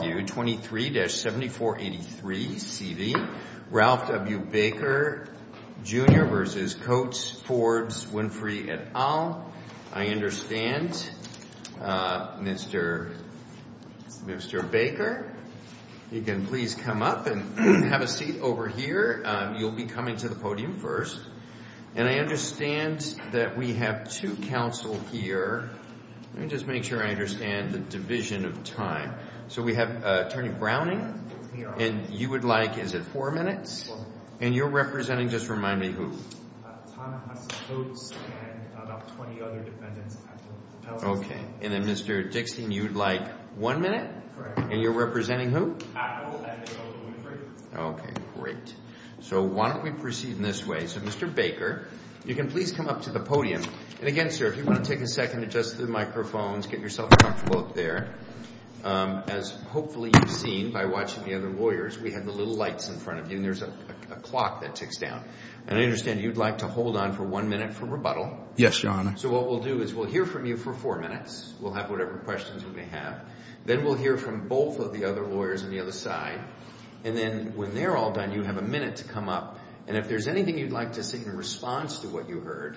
v. Forbes, Winfrey, et al. I understand, Mr. Baker, you can please come up and have a seat over here. You'll be coming to the podium first. And I understand that we have two counsel here. Let me just make sure I understand the division of time. So we have Attorney Browning, and you would like, is it four minutes? Four minutes. And you're representing, just remind me, who? Thomas Coates and about 20 other defendants. Okay. And then Mr. Dixon, you'd like one minute? Correct. And you're representing who? Apple and Nicole Winfrey. Okay, great. So why don't we proceed in this way. So Mr. Baker, you can please come up to the podium. And again, sir, if you want to take a second to adjust the microphones, get yourself comfortable up there. As hopefully you've seen by watching the other lawyers, we have the little lights in front of you, and there's a clock that ticks down. And I understand you'd like to hold on for one minute for rebuttal. Yes, Your Honor. So what we'll do is we'll hear from you for four minutes. We'll have whatever questions you may have. Then we'll hear from both of the other lawyers on the other side. And then when they're all done, you have a minute to come up. And if there's anything you'd like to say in response to what you heard,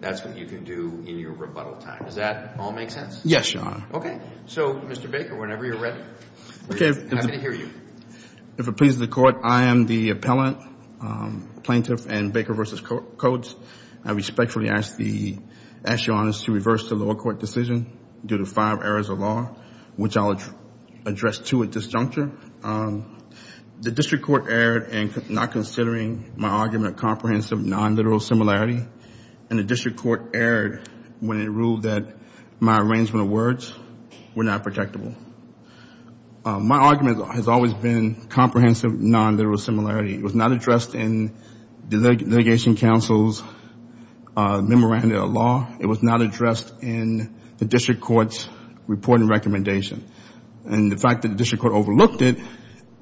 that's what you can do in your rebuttal time. Does that all make sense? Yes, Your Honor. Okay. So Mr. Baker, whenever you're ready. Okay. Happy to hear you. If it pleases the Court, I am the appellant, plaintiff in Baker v. Codes. I respectfully ask the Assyrians to reverse the lower court decision due to five errors of law, which I'll address two at this juncture. The District Court erred in not considering my argument comprehensive non-literal similarity. And the District Court erred when it ruled that my arrangement of words were not protectable. My argument has always been comprehensive non-literal similarity. It was not addressed in the litigation counsel's memorandum of law. It was not addressed in the District Court's reporting recommendation. And the fact that the District Court overlooked it,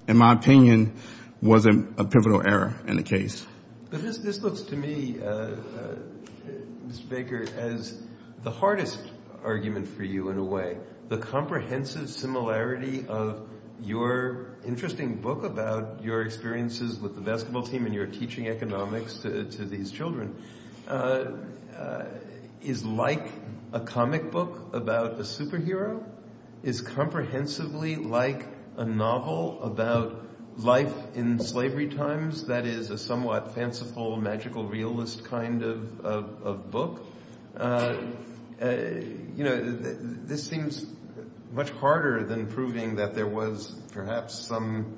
in my opinion, was a pivotal error in the case. This looks to me, Mr. Baker, as the hardest argument for you, in a way. The comprehensive similarity of your interesting book about your experiences with the basketball team and your teaching economics to these life in slavery times that is a somewhat fanciful, magical, realist kind of book. This seems much harder than proving that there was perhaps some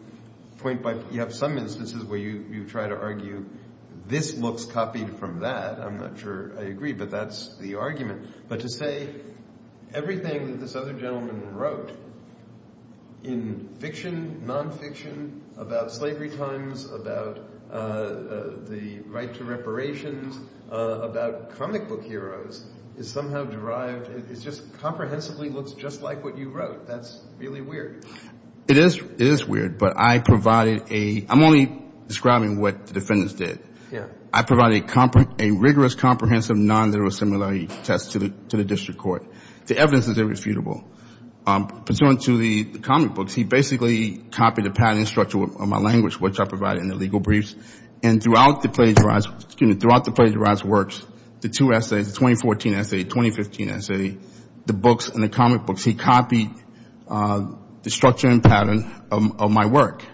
point by, you have some instances where you try to argue this looks copied from that. I'm not sure I agree, but that's the argument. But to say everything that this other gentleman wrote in fiction, non-fiction, about slavery times, about the right to reparations, about comic book heroes, is somehow derived, it just comprehensively looks just like what you wrote. That's really weird. It is weird, but I provided a, I'm only describing what the defendants did. I provided a rigorous comprehensive non-literal similarity test to the District Court. The evidence is irrefutable. Pursuant to the comic books, he basically copied the pattern and structure of my language, which I provided in the legal briefs. And throughout the plagiarized works, the two essays, the 2014 essay, the 2015 essay, the books and the comic books, he copied the structure and pattern of my work.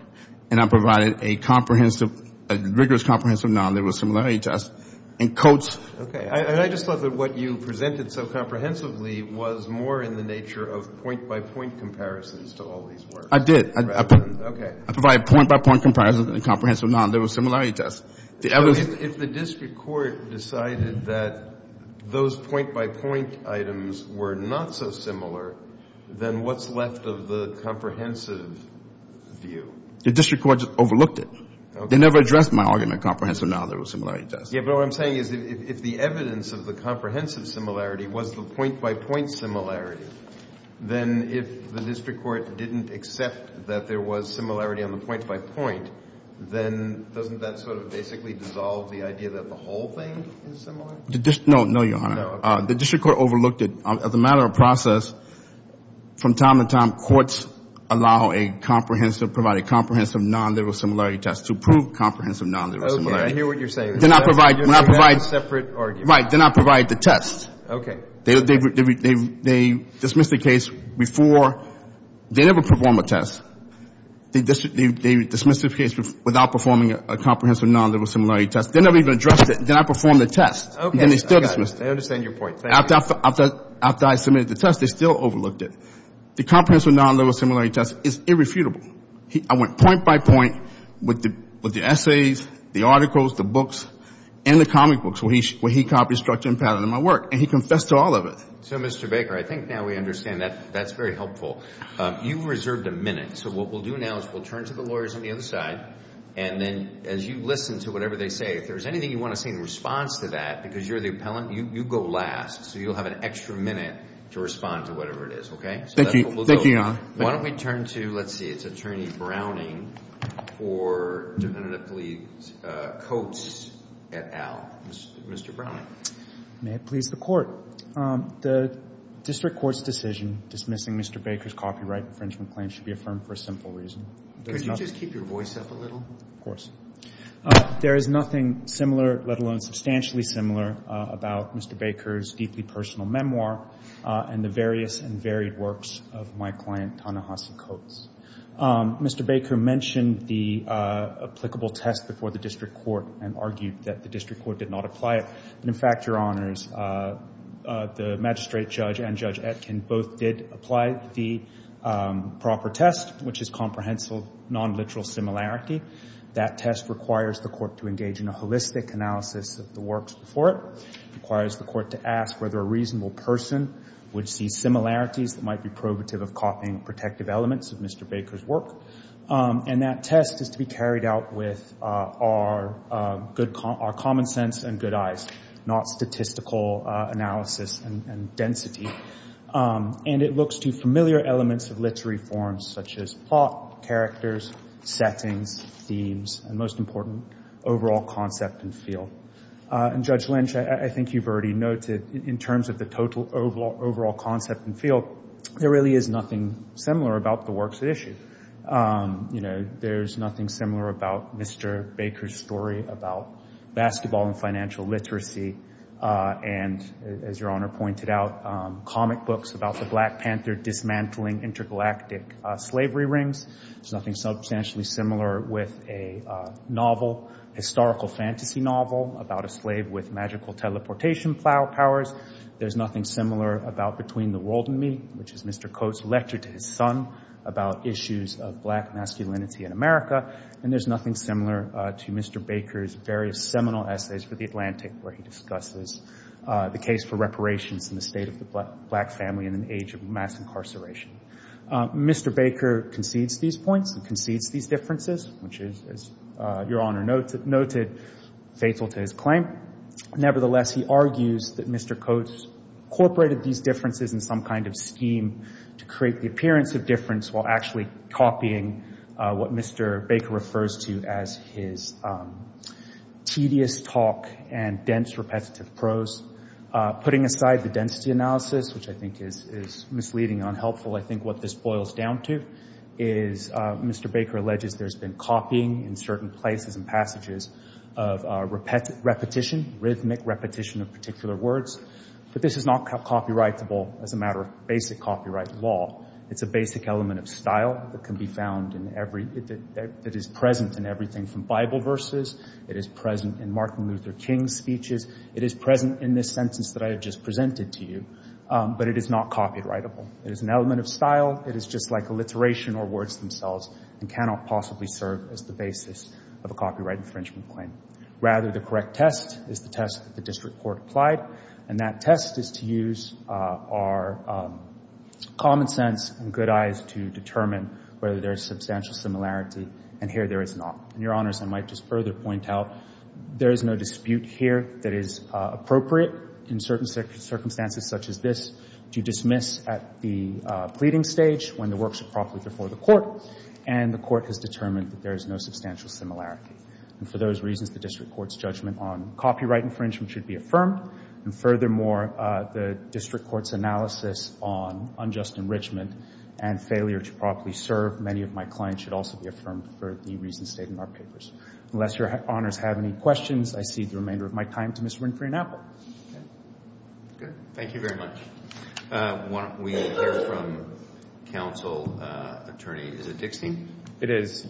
And I provided a comprehensive, a rigorous comprehensive non-literal similarity test. And I just thought that what you presented so comprehensively was more in the nature of point-by-point comparisons to all these works. I did. I provided point-by-point comparisons and comprehensive non-literal similarity tests. If the District Court decided that those point-by-point items were not so similar, then what's left of the comprehensive view? The District Court overlooked it. They never addressed my argument of comprehensive non-literal similarity tests. Yeah, but what I'm saying is if the evidence of the comprehensive similarity was the point-by-point similarity, then if the District Court didn't accept that there was similarity on the point-by-point, then doesn't that sort of basically dissolve the idea that the whole thing is similar? No, no, Your Honor. The District Court overlooked it. As a matter of process, from time to time, courts allow a comprehensive, provide a comprehensive non-literal similarity test to prove comprehensive non-literal similarity. Okay, I hear what you're saying. They do not provide, they do not provide separate arguments. Right, they do not provide the test. Okay. They dismiss the case before, they never perform a test. They dismiss the case without performing a comprehensive non-literal similarity test. They never even addressed it. They did not perform the test. Okay. And they still dismissed it. I understand your point. After I submitted the test, they still overlooked it. The comprehensive non-literal similarity test is irrefutable. I went point-by-point with the essays, the articles, the books, and the comic books where he copied structure and pattern in my work, and he confessed to all of it. So, Mr. Baker, I think now we understand that that's very helpful. You reserved a minute, so what we'll do now is we'll turn to the lawyers on the other side, and then as you listen to whatever they say, if there's anything you want to say in response to that, because you're the to whatever it is, okay? Thank you. Thank you, Your Honor. Why don't we turn to, let's see, it's Attorney Browning for Defendant Appeals Coates et al. Mr. Browning. May it please the Court. The District Court's decision dismissing Mr. Baker's copyright infringement claim should be affirmed for a simple reason. Could you just keep your voice up a little? Of course. There is nothing similar, let alone substantially similar, about Mr. Baker's deeply personal memoir, and the various and varied works of my client, Ta-Nehisi Coates. Mr. Baker mentioned the applicable test before the District Court and argued that the District Court did not apply it, but in fact, Your Honors, the magistrate judge and Judge Etkin both did apply the proper test, which is comprehensive non-literal similarity. That test requires the Court to engage in a would see similarities that might be probative of copying protective elements of Mr. Baker's work, and that test is to be carried out with our common sense and good eyes, not statistical analysis and density. And it looks to familiar elements of literary forms, such as plot, characters, settings, themes, and most important, overall concept and feel. And Judge Lynch, I think you've already noted in terms of the total overall concept and feel, there really is nothing similar about the works at issue. There's nothing similar about Mr. Baker's story about basketball and financial literacy and, as Your Honor pointed out, comic books about the Black Panther dismantling intergalactic slavery rings. There's nothing substantially similar with a novel, historical fantasy novel about a slave with magical teleportation powers. There's nothing similar about Between the World and Me, which is Mr. Coates' lecture to his son about issues of Black masculinity in America. And there's nothing similar to Mr. Baker's various seminal essays for The Atlantic, where he discusses the case for reparations in the state of the Black family in an age of mass incarceration. Mr. Baker concedes these points and concedes these differences, which is, as Your Honor noted, fatal to his claim. Nevertheless, he argues that Mr. Coates incorporated these differences in some kind of scheme to create the appearance of difference while actually copying what Mr. Baker refers to as his tedious talk and dense, repetitive prose. Putting aside the density analysis, which I think is misleading and unhelpful, I think what this boils down to is Mr. Baker alleges there's been copying in certain places and passages of repetition, rhythmic repetition of particular words, but this is not copyrightable as a matter of basic copyright law. It's a basic element of style that can be found in every, that is present in everything from Bible verses, it is present in Martin Luther King's speeches, it is present in this sentence that I have just presented to you, but it is not copyrightable. It is an element of style. It is just like alliteration or words themselves and cannot possibly serve as the basis of a copyright infringement claim. Rather, the correct test is the test that the district court applied, and that test is to use our common sense and good eyes to determine whether there is substantial similarity, and here there is not. And Your Honors, I might just further point out there is no dispute here that is appropriate in certain circumstances such as this to dismiss at the pleading stage when the work is properly before the court, and the court has determined that there is no substantial similarity. And for those reasons, the district court's judgment on copyright infringement should be affirmed, and furthermore, the district court's analysis on unjust enrichment and failure to properly serve many of my claims should also be affirmed for the reasons stated in our papers. Unless Your Honors have any questions, I cede the remainder of my time to Ms. Winfrey and Apple. Okay, good. Thank you very much. Why don't we hear from counsel attorney, is it Dickstein? It is.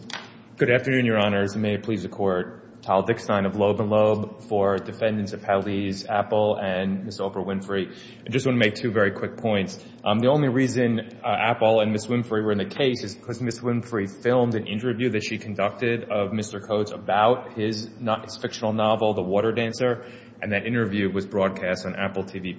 Good afternoon, Your Honors, and may it please the court. Tal Dickstein of Loeb & Loeb for defendants of Hallie's, Apple, and Ms. Oprah Winfrey. I just want to make two very quick points. The only reason Apple and Ms. Winfrey were in the case is Ms. Winfrey filmed an interview that she conducted of Mr. Coates about his fictional novel, The Water Dancer, and that interview was broadcast on Apple TV+.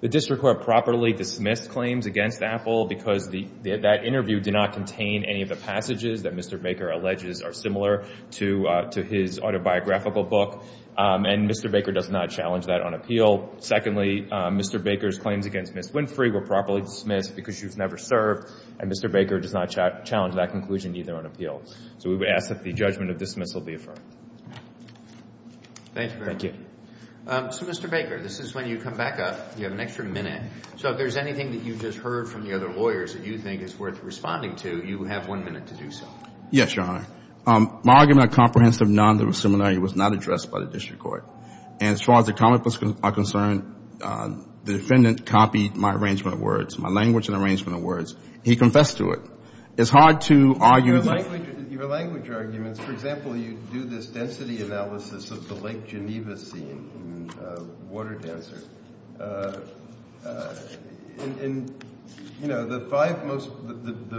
The district court properly dismissed claims against Apple because that interview did not contain any of the passages that Mr. Baker alleges are similar to his autobiographical book, and Mr. Baker does not challenge that on appeal. Secondly, Mr. Baker's claims against Ms. Winfrey were properly dismissed because she was never served, and Mr. Baker does not challenge that conclusion either on appeal. So we would ask that the judgment of dismissal be affirmed. Thank you. So Mr. Baker, this is when you come back up, you have an extra minute. So if there's anything that you've just heard from the other lawyers that you think is worth responding to, you have one minute to do so. Yes, Your Honor. My argument of comprehensive non-liberal similarity was not addressed by the district court, and as far as the comment was concerned, the defendant copied my arrangement of words, my language and arrangement of words. He confessed to it. It's hard to argue... Your language arguments, for example, you do this density analysis of the Lake Geneva scene in The Water Dancer. The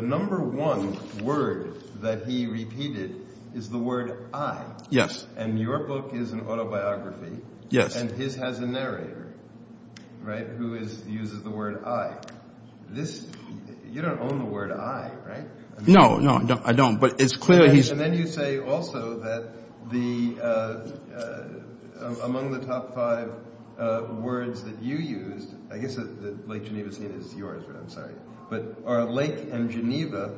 number one word that he repeated is the word I. Yes. And your book is an autobiography. Yes. And his has a narrator, right, who uses the word I. You don't own the word I, right? No, no, I don't. But it's clear he's... And then you say also that among the top five words that you used, I guess the Lake Geneva scene is yours, but I'm sorry, but are lake and Geneva,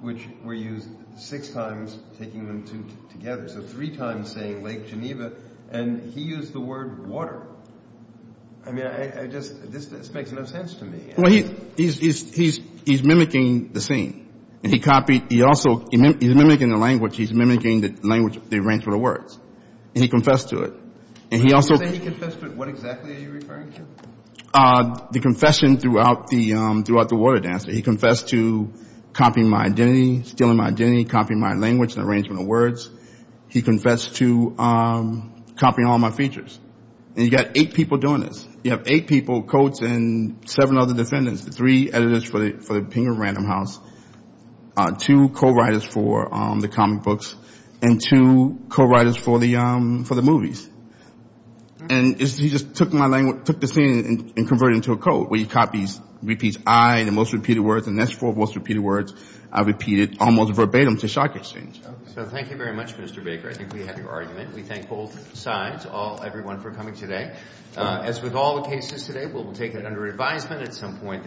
which were used six times, taking them together, so three times saying Lake Geneva, and he used the word water. I mean, I just, this makes no sense to me. Well, he's mimicking the scene, and he copied, he also, he's mimicking the language, he's mimicking the language, the arrangement of words, and he confessed to it. And he also... When you say he confessed to it, what exactly are you referring to? The confession throughout The Water Dancer. He confessed to copying my identity, stealing my identity, copying my language and arrangement of words. He confessed to copying all my features. And you got eight people doing this. You have eight people, Coates and seven other defendants, three editors for the Penguin Random House, two co-writers for the comic books, and two co-writers for the movies. And he just took my language, took the scene and converted it into a code where he copies, repeats I, the most repeated words, and the next four most repeated words are repeated almost verbatim to shock exchange. So thank you very much, Mr. Baker. I think we have your argument. We thank both sides, all, everyone for coming today. As with all the cases today, we'll take it under advisement at some point.